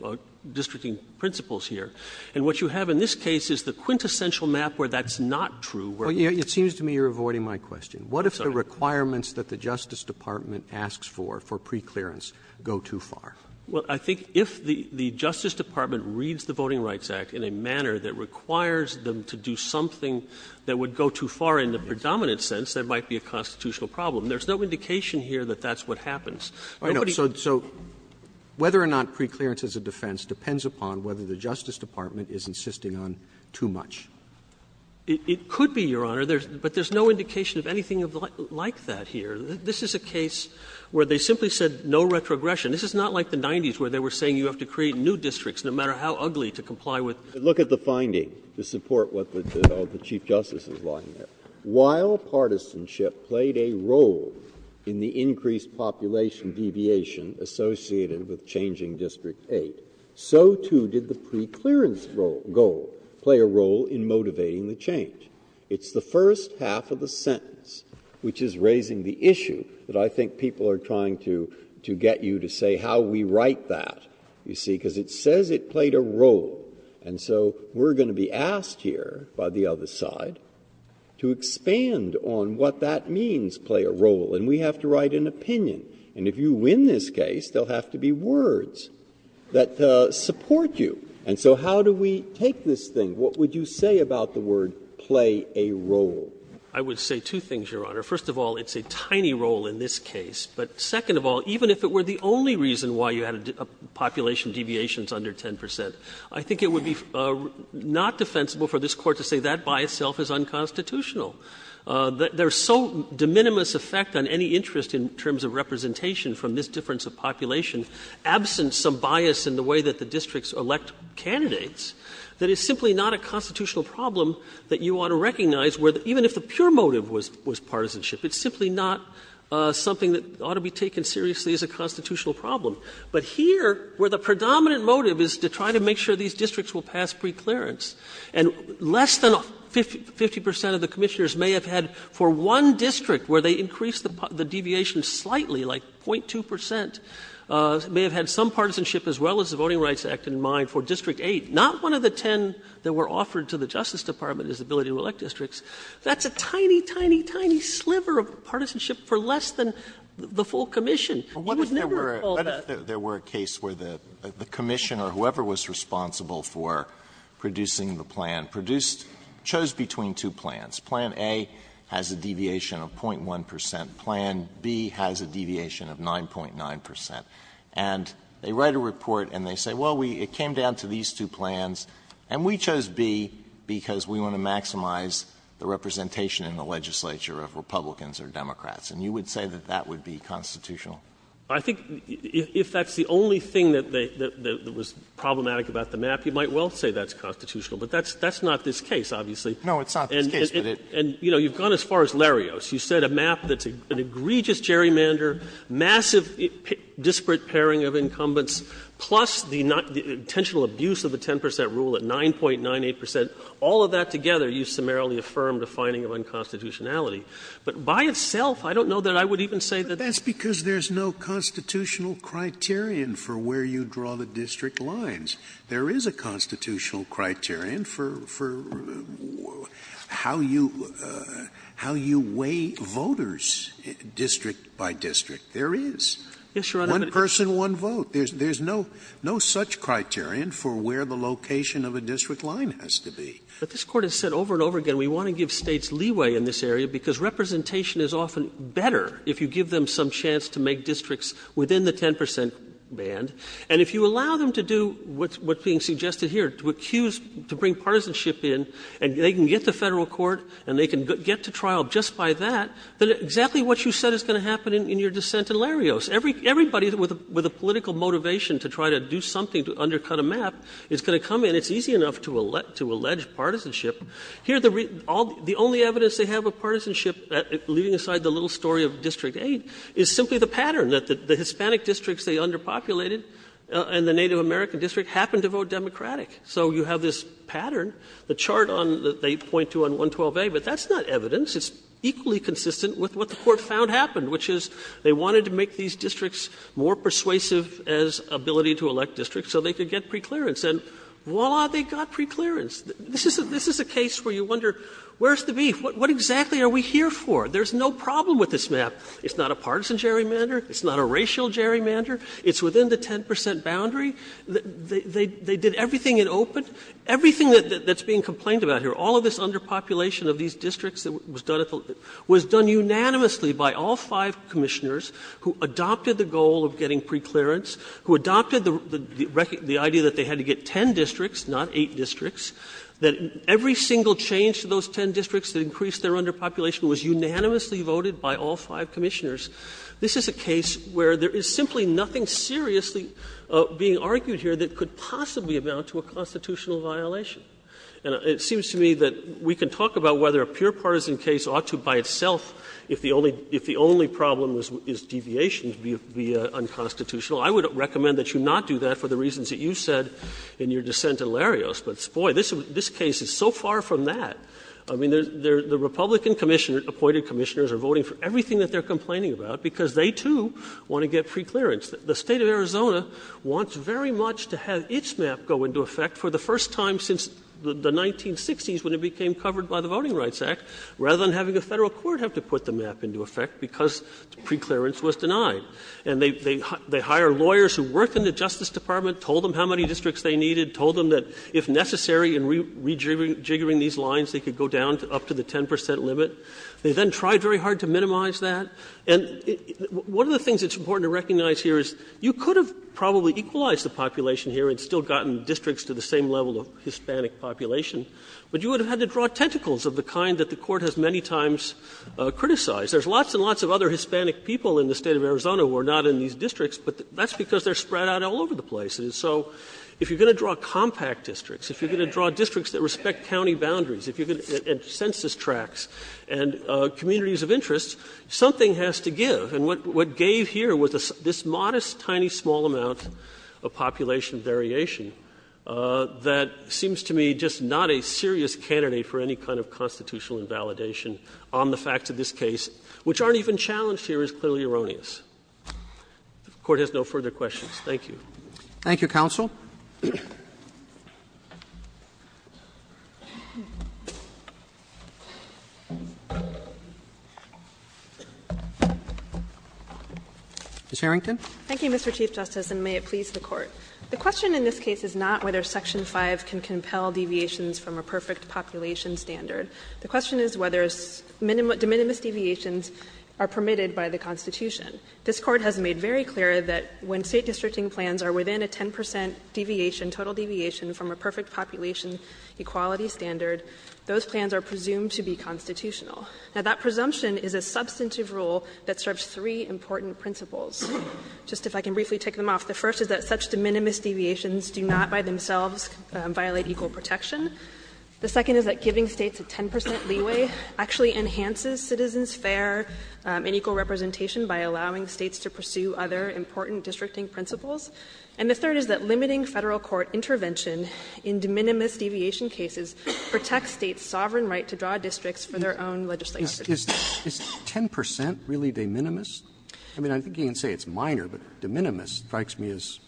districting principles here. And what you have in this case is the quintessential map where that's not true. It seems to me you're avoiding my question. What if the requirements that the Justice Department asks for, for preclearance, go too far? Well, I think if the Justice Department reads the Voting Rights Act in a manner that requires them to do something that would go too far in the predominant sense, that might be a constitutional problem. There's no indication here that that's what happens. Nobody else. So whether or not preclearance is a defense depends upon whether the Justice Department is insisting on too much. It could be, Your Honor, but there's no indication of anything like that here. This is a case where they simply said no retrogression. This is not like the 90s where they were saying you have to create new districts no matter how ugly to comply with. Breyer. Look at the finding to support what the Chief Justice is laying there. While partisanship played a role in the increased population deviation associated with changing District 8, so too did the preclearance goal play a role in motivating the change. It's the first half of the sentence which is raising the issue that I think people are trying to get you to say how we write that, you see, because it says it played a role. And so we're going to be asked here by the other side to expand on what that means play a role, and we have to write an opinion. And if you win this case, there will have to be words that support you. And so how do we take this thing? What would you say about the word play a role? I would say two things, Your Honor. First of all, it's a tiny role in this case. But second of all, even if it were the only reason why you had population deviations under 10 percent, I think it would be not defensible for this Court to say that by itself is unconstitutional. There is so de minimis effect on any interest in terms of representation from this difference of population, absent some bias in the way that the districts elect candidates, that it's simply not a constitutional problem that you ought to recognize where even if the pure motive was partisanship, it's simply not something that ought to be taken seriously as a constitutional problem. But here, where the predominant motive is to try to make sure these districts will pass preclearance, and less than 50 percent of the Commissioners may have had for one district where they increased the deviation slightly, like 0.2 percent, may have had some partisanship as well as the Voting Rights Act in mind for District 8. Not one of the 10 that were offered to the Justice Department as the ability to elect districts. That's a tiny, tiny, tiny sliver of partisanship for less than the full Commission. You would never call that. Alitoso, what if there were a case where the Commission or whoever was responsible for producing the plan produced, chose between two plans? Plan A has a deviation of 0.1 percent. Plan B has a deviation of 9.9 percent. And they write a report and they say, well, we came down to these two plans and we chose B because we want to maximize the representation in the legislature of Republicans or Democrats. And you would say that that would be constitutional? I think if that's the only thing that was problematic about the map, you might well say that's constitutional, but that's not this case, obviously. No, it's not this case, but it's not this case. And, you know, you've gone as far as Larios. You said a map that's an egregious gerrymander, massive disparate pairing of incumbents, plus the intentional abuse of the 10 percent rule at 9.98 percent. All of that together, you summarily affirmed a finding of unconstitutionality. But by itself, I don't know that I would even say that that's constitutional. Scalia. But that's because there's no constitutional criterion for where you draw the district lines. There is a constitutional criterion for how you weigh voters district by district. There is. One person, one vote. There's no such criterion for where the location of a district line has to be. But this Court has said over and over again, we want to give States leeway in this area because representation is often better if you give them some chance to make districts within the 10 percent band. And if you allow them to do what's being suggested here, to accuse, to bring partisanship in, and they can get to Federal court and they can get to trial just by that, then exactly what you said is going to happen in your dissent in Larios. Everybody with a political motivation to try to do something to undercut a map is going to come in. It's easy enough to allege partisanship. Here, the only evidence they have of partisanship, leaving aside the little story of District 8, is simply the pattern, that the Hispanic districts they underpopulated and the Native American district happened to vote Democratic. So you have this pattern, the chart on the 8.2 on 112A, but that's not evidence. It's equally consistent with what the Court found happened, which is they wanted to make these districts more persuasive as ability to elect districts so they could get preclearance. And, voila, they got preclearance. This is a case where you wonder, where's the beef? What exactly are we here for? There's no problem with this map. It's not a partisan gerrymander. It's not a racial gerrymander. It's within the 10 percent boundary. They did everything in open. Everything that's being complained about here, all of this underpopulation of these districts was done unanimously by all five Commissioners who adopted the goal of getting preclearance, who adopted the idea that they had to get 10 districts, not 8 districts, that every single change to those 10 districts that increased their underpopulation was unanimously voted by all five Commissioners. This is a case where there is simply nothing seriously being argued here that could possibly amount to a constitutional violation. And it seems to me that we can talk about whether a pure partisan case ought to, by itself, if the only problem is deviation, be unconstitutional. I would recommend that you not do that for the reasons that you said in your dissent at Larios, but, boy, this case is so far from that. I mean, the Republican Commissioners, appointed Commissioners, are voting for everything that they're complaining about because they, too, want to get preclearance. The State of Arizona wants very much to have its map go into effect for the first time since the 1960s when it became covered by the Voting Rights Act, rather than having a Federal court have to put the map into effect because preclearance was denied. And they hire lawyers who worked in the Justice Department, told them how many districts they needed, told them that if necessary in rejiggering these lines, they could go down up to the 10 percent limit. They then tried very hard to minimize that. And one of the things that's important to recognize here is you could have probably equalized the population here and still gotten districts to the same level of Hispanic population, but you would have had to draw tentacles of the kind that the Court has many times criticized. There's lots and lots of other Hispanic people in the State of Arizona who are not in these districts, but that's because they're spread out all over the place. And so if you're going to draw compact districts, if you're going to draw districts that respect county boundaries, if you're going to add census tracts and communities of interest, something has to give. And what gave here was this modest, tiny, small amount of population variation that seems to me just not a serious candidate for any kind of constitutional invalidation on the facts of this case, which aren't even challenged here is clearly erroneous. If the Court has no further questions, thank you. Roberts. Thank you, counsel. Ms. Harrington. Thank you, Mr. Chief Justice, and may it please the Court. The question in this case is not whether section 5 can compel deviations from a perfect population standard. The question is whether de minimis deviations are permitted by the Constitution. This Court has made very clear that when State districting plans are within a 10 percent deviation, total deviation, from a perfect population equality standard, those plans are presumed to be constitutional. Now, that presumption is a substantive rule that serves three important principles. Just if I can briefly tick them off, the first is that such de minimis deviations do not by themselves violate equal protection. The second is that giving States a 10 percent leeway actually enhances citizens' fair and equal representation by allowing States to pursue other important districting principles. And the third is that limiting Federal court intervention in de minimis deviation cases protects States' sovereign right to draw districts for their own legislative property. Roberts. Is 10 percent really de minimis? I mean, I think you can say it's minor, but de minimis strikes me as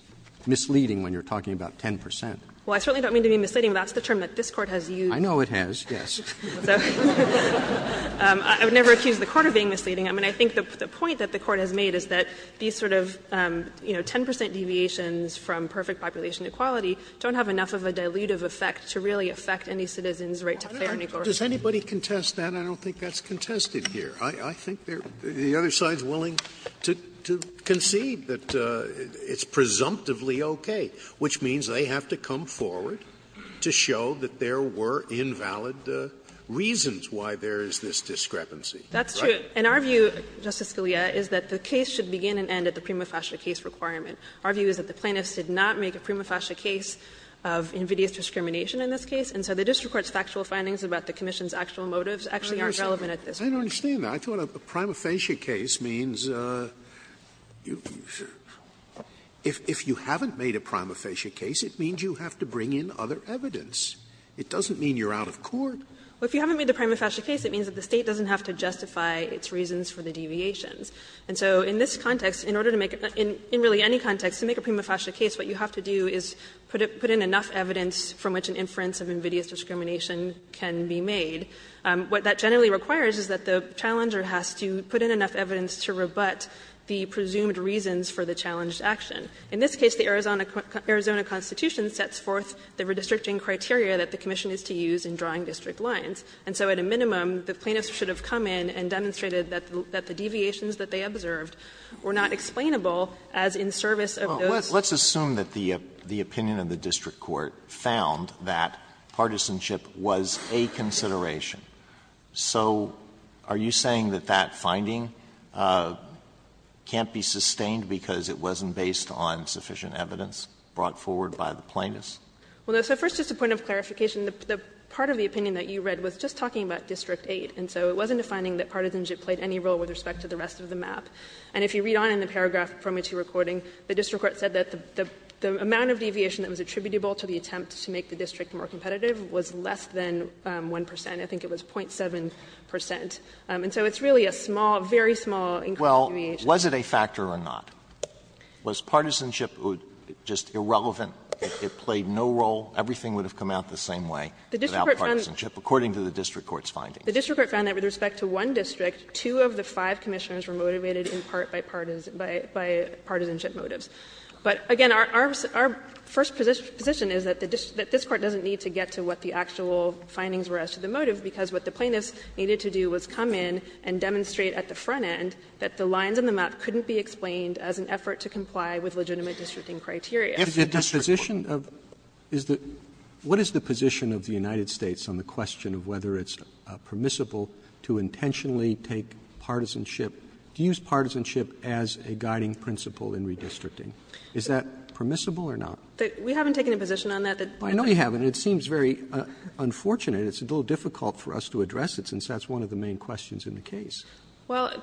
misleading when you're talking about 10 percent. Well, I certainly don't mean to be misleading, but that's the term that this Court has used. I know it has, yes. So I would never accuse the Court of being misleading. I mean, I think the point that the Court has made is that these sort of, you know, 10 percent deviations from perfect population equality don't have enough of a dilutive effect to really affect any citizen's right to fair and equal representation. Scalia. Does anybody contest that? I don't think that's contested here. I think the other side is willing to concede that it's presumptively okay, which means they have to come forward to show that there were invalid reasons why there is this discrepancy. That's true. And our view, Justice Scalia, is that the case should begin and end at the prima facie case requirement. Our view is that the plaintiffs did not make a prima facie case of invidious discrimination in this case, and so the district court's factual findings about the commission's actual motives actually aren't relevant at this point. I don't understand that. I thought a prima facie case means if you haven't made a prima facie case, you're out of court. Well, if you haven't made a prima facie case, it means that the State doesn't have to justify its reasons for the deviations. And so in this context, in order to make a prima facie case, what you have to do is put in enough evidence from which an inference of invidious discrimination can be made. What that generally requires is that the challenger has to put in enough evidence to rebut the presumed reasons for the challenged action. In this case, the Arizona Constitution sets forth the redistricting criteria that the commission is to use in drawing district lines. And so at a minimum, the plaintiffs should have come in and demonstrated that the deviations that they observed were not explainable as in service of those others. Alito, let's assume that the opinion of the district court found that partisanship was a consideration. So are you saying that that finding can't be sustained because it wasn't based on sufficient evidence brought forward by the plaintiffs? So first, just a point of clarification, the part of the opinion that you read was just talking about district 8. And so it wasn't a finding that partisanship played any role with respect to the rest of the map. And if you read on in the paragraph from which you're recording, the district court said that the amount of deviation that was attributable to the attempt to make the district more competitive was less than 1 percent. I think it was 0.7 percent. And so it's really a small, very small increase in deviation. Alito, was it a factor or not? Was partisanship just irrelevant? It played no role? Everything would have come out the same way without partisanship, according to the district court's findings. The district court found that with respect to one district, two of the five Commissioners were motivated in part by partisanship motives. But again, our first position is that this Court doesn't need to get to what the actual findings were as to the motive, because what the plaintiffs needed to do was come in and demonstrate at the front end that the lines on the map couldn't be explained as an effort to comply with legitimate districting criteria. Roberts What is the position of the United States on the question of whether it's permissible to intentionally take partisanship, to use partisanship as a guiding principle in redistricting? Is that permissible or not? We haven't taken a position on that. I know you haven't, and it seems very unfortunate. It's a little difficult for us to address it, since that's one of the main questions in the case. Harrington Well,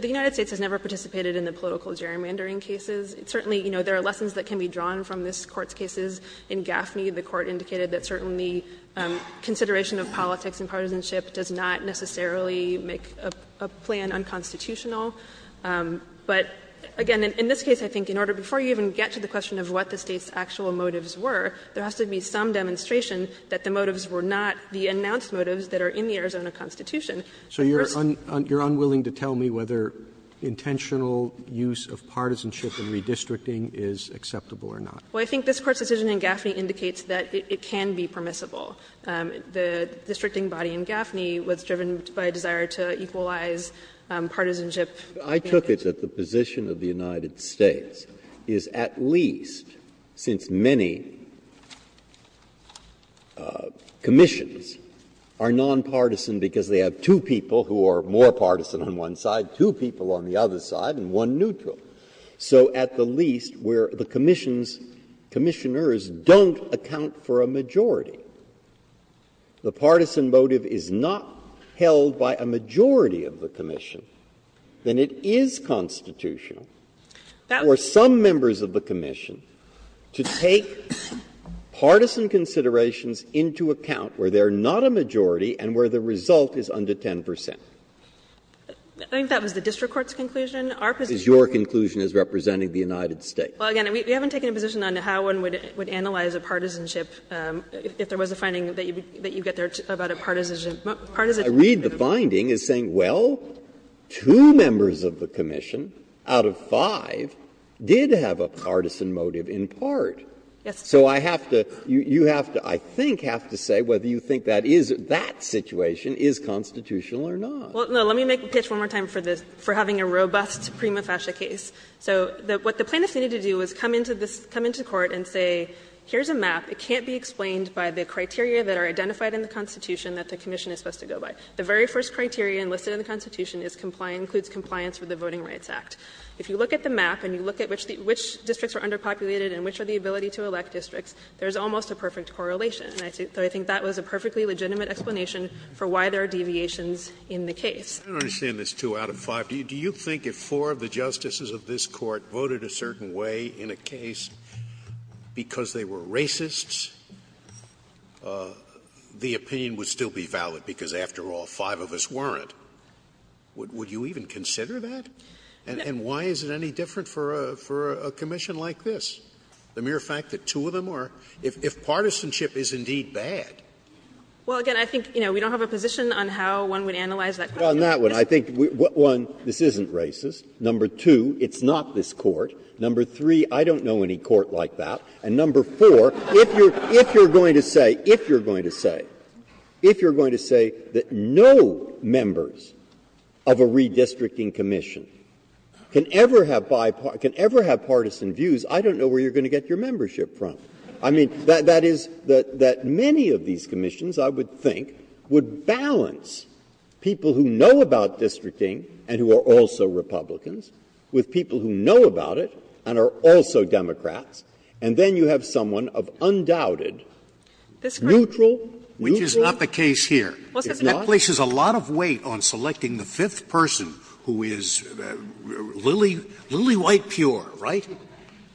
the United States has never participated in the political gerrymandering cases. Certainly, you know, there are lessons that can be drawn from this Court's cases. In Gaffney, the Court indicated that certainly consideration of politics and partisanship does not necessarily make a plan unconstitutional. But again, in this case, I think in order to get to the question of what the State's actual motives were, there has to be some demonstration that the motives were not the announced motives that are in the Arizona Constitution. Roberts So you're unwilling to tell me whether intentional use of partisanship in redistricting is acceptable or not? Harrington Well, I think this Court's decision in Gaffney indicates that it can be permissible. The districting body in Gaffney was driven by a desire to equalize partisanship. Breyer. I took it that the position of the United States is at least, since many commissions are nonpartisan because they have two people who are more partisan on one side, two people on the other side, and one neutral, so at the least where the commissioners don't account for a majority. The partisan motive is not held by a majority of the commission. Then it is constitutional for some members of the commission to take partisan considerations into account where they are not a majority and where the result is under 10 percent. Harrington I think that was the district court's conclusion. Our position is that the district court's conclusion is representing the United States. Well, again, we haven't taken a position on how one would analyze a partisanship if there was a finding that you get there about a partisan motive. Breyer. I read the finding as saying, well, two members of the commission out of five did have a partisan motive in part. So I have to, you have to, I think, have to say whether you think that is, that situation is constitutional or not. Harrington Well, let me make a pitch one more time for having a robust prima facie case. So what the plaintiffs needed to do was come into this, come into court and say, here's a map. It can't be explained by the criteria that are identified in the Constitution that the commission is supposed to go by. The very first criteria enlisted in the Constitution is compliant, includes compliance with the Voting Rights Act. If you look at the map and you look at which districts are underpopulated and which are the ability to elect districts, there is almost a perfect correlation. And I think that was a perfectly legitimate explanation for why there are deviations in the case. Scalia I don't understand this two out of five. Because they were racists, the opinion would still be valid because, after all, five of us weren't. Would you even consider that? And why is it any different for a commission like this? The mere fact that two of them are, if partisanship is indeed bad. Harrington Well, again, I think, you know, we don't have a position on how one would analyze that question. Breyer Well, on that one, I think, one, this isn't racist. Number two, it's not this Court. Number three, I don't know any Court like that. And number four, if you're going to say, if you're going to say, if you're going to say that no members of a redistricting commission can ever have bipartisan views, I don't know where you're going to get your membership from. I mean, that is, that many of these commissions, I would think, would balance people who know about districting and who are also Republicans with people who know about it and are also Democrats, and then you have someone of undoubted neutral neutral. Scalia Which is not the case here. That places a lot of weight on selecting the fifth person who is lily, lily-white pure, right?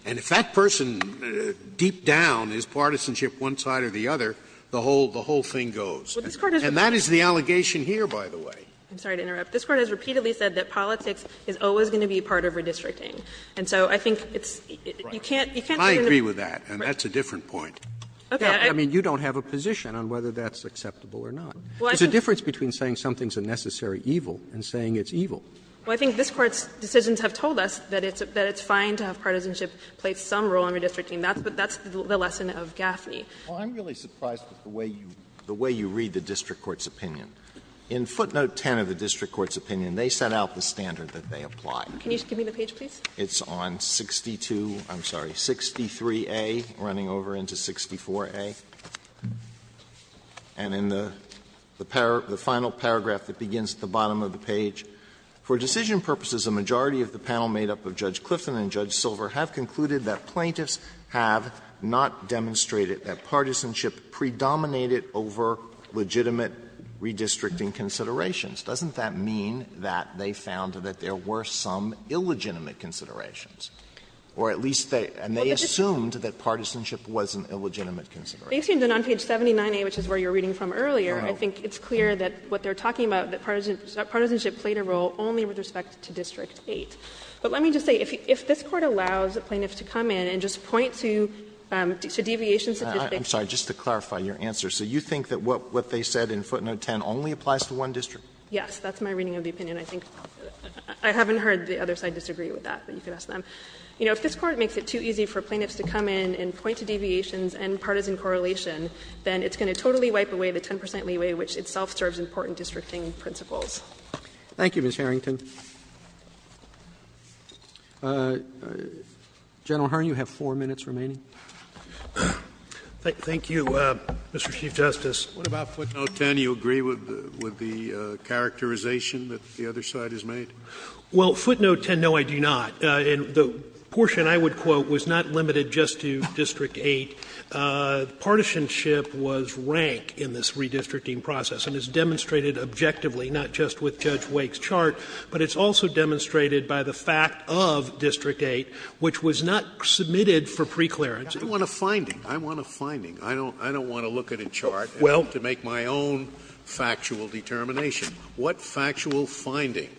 And if that person, deep down, is partisanship one side or the other, the whole thing goes. And that is the allegation here, by the way. Harrington I'm sorry to interrupt. This Court has repeatedly said that politics is always going to be part of redistricting. And so I think it's, you can't, you can't say that in a Scalia I agree with that, and that's a different point. I mean, you don't have a position on whether that's acceptable or not. It's a difference between saying something's a necessary evil and saying it's evil. Harrington Well, I think this Court's decisions have told us that it's fine to have partisanship play some role in redistricting. That's the lesson of Gaffney. Alito Well, I'm really surprised at the way you read the district court's opinion. In footnote 10 of the district court's opinion, they set out the standard that they apply. Harrington Can you give me the page, please? Alito It's on 62, I'm sorry, 63a, running over into 64a. And in the final paragraph that begins at the bottom of the page, For decision purposes, a majority of the panel made up of Judge Clifton and Judge Silver have concluded that plaintiffs have not demonstrated that partisanship predominated over legitimate redistricting considerations. Doesn't that mean that they found that there were some illegitimate considerations? Or at least they assumed that partisanship was an illegitimate consideration. Harrington Based on page 79a, which is where you were reading from earlier, I think it's clear that what they're talking about, that partisanship played a role only with respect to district 8. But let me just say, if this Court allows a plaintiff to come in and just point to deviations of district 8. Alito I'm sorry, just to clarify your answer. So you think that what they said in footnote 10 only applies to one district? Harrington Yes, that's my reading of the opinion. I think I haven't heard the other side disagree with that, but you can ask them. You know, if this Court makes it too easy for plaintiffs to come in and point to deviations and partisan correlation, then it's going to totally wipe away the 10 percent leeway, which itself serves important districting principles. Roberts Thank you, Ms. Harrington. General Hearn, you have 4 minutes remaining. Thank you, Mr. Chief Justice. Scalia What about footnote 10? Do you agree with the characterization that the other side has made? Harrington Well, footnote 10, no, I do not. And the portion I would quote was not limited just to district 8. Partisanship was rank in this redistricting process, and it's demonstrated objectively, not just with Judge Wake's chart, but it's also demonstrated by the fact of district 8, which was not submitted for preclearance. Scalia I want a finding. I want a finding. I don't want to look at a chart and have to make my own factual determination. What factual finding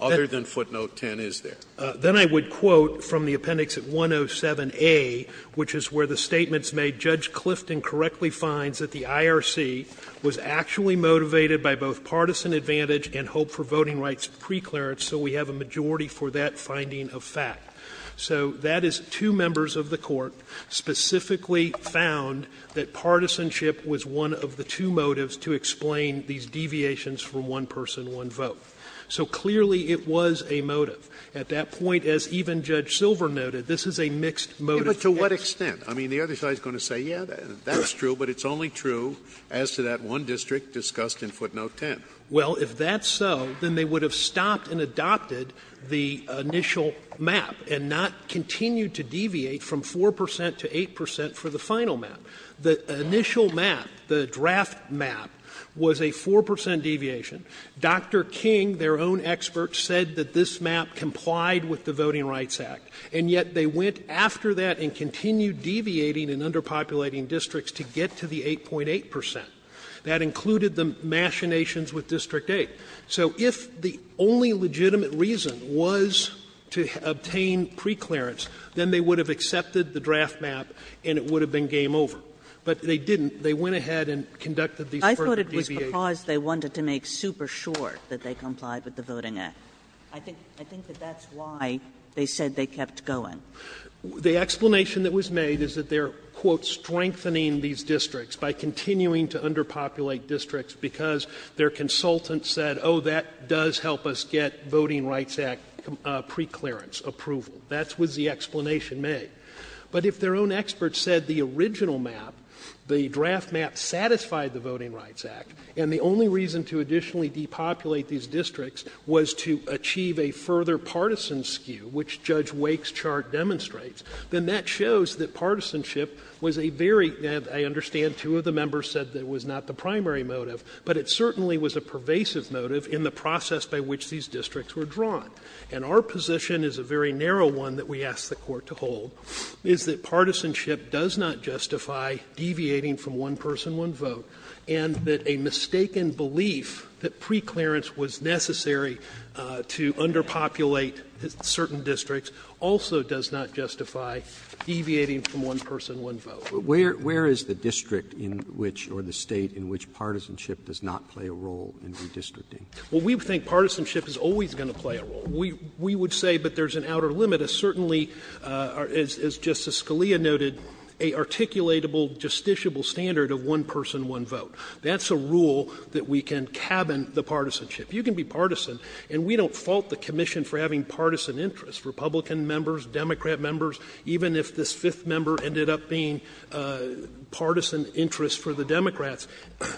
other than footnote 10 is there? Harrington Then I would quote from the appendix at 107A, which is where the statement's made, ''Judge Clifton correctly finds that the IRC was actually motivated by both partisan advantage and hope for voting rights preclearance, so we have a majority for that finding of fact.'' So that is two members of the Court specifically found that partisanship was one of the two motives to explain these deviations from one person, one vote. So clearly it was a motive. At that point, as even Judge Silver noted, this is a mixed motive. Scalia But to what extent? I mean, the other side is going to say, yeah, that's true, but it's only true as to that one district discussed in footnote 10. Well, if that's so, then they would have stopped and adopted the initial map and not continue to deviate from 4 percent to 8 percent for the final map. The initial map, the draft map, was a 4 percent deviation. Dr. King, their own expert, said that this map complied with the Voting Rights Act, and yet they went after that and continued deviating and underpopulating districts to get to the 8.8 percent. That included the machinations with District 8. So if the only legitimate reason was to obtain preclearance, then they would have accepted the draft map and it would have been game over. But they didn't. They went ahead and conducted these further deviations. Kagan I thought it was because they wanted to make super sure that they complied with the Voting Act. I think that that's why they said they kept going. The explanation that was made is that they are, quote, ''strengthening'' to underpopulate districts because their consultant said, ''Oh, that does help us get Voting Rights Act preclearance approval.'' That was the explanation made. But if their own expert said the original map, the draft map, satisfied the Voting Rights Act, and the only reason to additionally depopulate these districts was to achieve a further partisan skew, which Judge Wake's chart demonstrates, then that shows that partisanship was a very, I understand two of the members said that it was not the primary motive, but it certainly was a pervasive motive in the process by which these districts were drawn. And our position is a very narrow one that we ask the Court to hold, is that partisanship does not justify deviating from one person, one vote, and that a mistaken belief that preclearance was necessary to underpopulate certain districts also does not justify deviating from one person, one vote. Roberts Where is the district in which, or the State, in which partisanship does not play a role in redistricting? Well, we think partisanship is always going to play a role. We would say, but there's an outer limit, a certainly, as Justice Scalia noted, a articulatable, justiciable standard of one person, one vote. That's a rule that we can cabin the partisanship. You can be partisan, and we don't fault the commission for having partisan interests, Republican members, Democrat members, even if this fifth member ended up being partisan interest for the Democrats,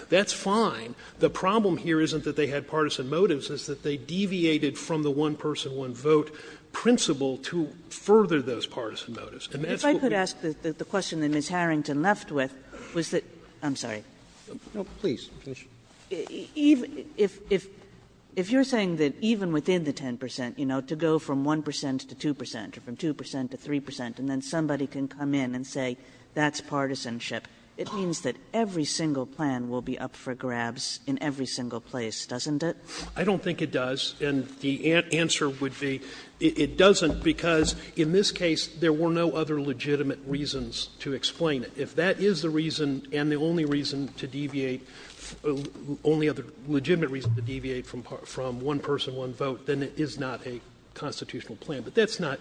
that's fine. The problem here isn't that they had partisan motives, it's that they deviated from the one person, one vote principle to further those partisan motives. And that's what we do. Kagan If I could ask the question that Ms. Harrington left with, was that – I'm sorry. Roberts No, please, finish. Kagan If you're saying that even within the 10 percent, you know, to go from 1 percent to 2 percent, or from 2 percent to 3 percent, and then somebody can come in and say that's partisanship, it means that every single plan will be up for grabs in every single place, doesn't it? Roberts I don't think it does. And the answer would be it doesn't, because in this case there were no other legitimate reasons to explain it. If that is the reason and the only reason to deviate – only other legitimate reason to deviate from one person, one vote, then it is not a constitutional plan. But that's not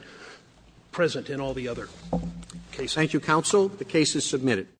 present in all the other cases. Roberts Thank you, counsel. The case is submitted.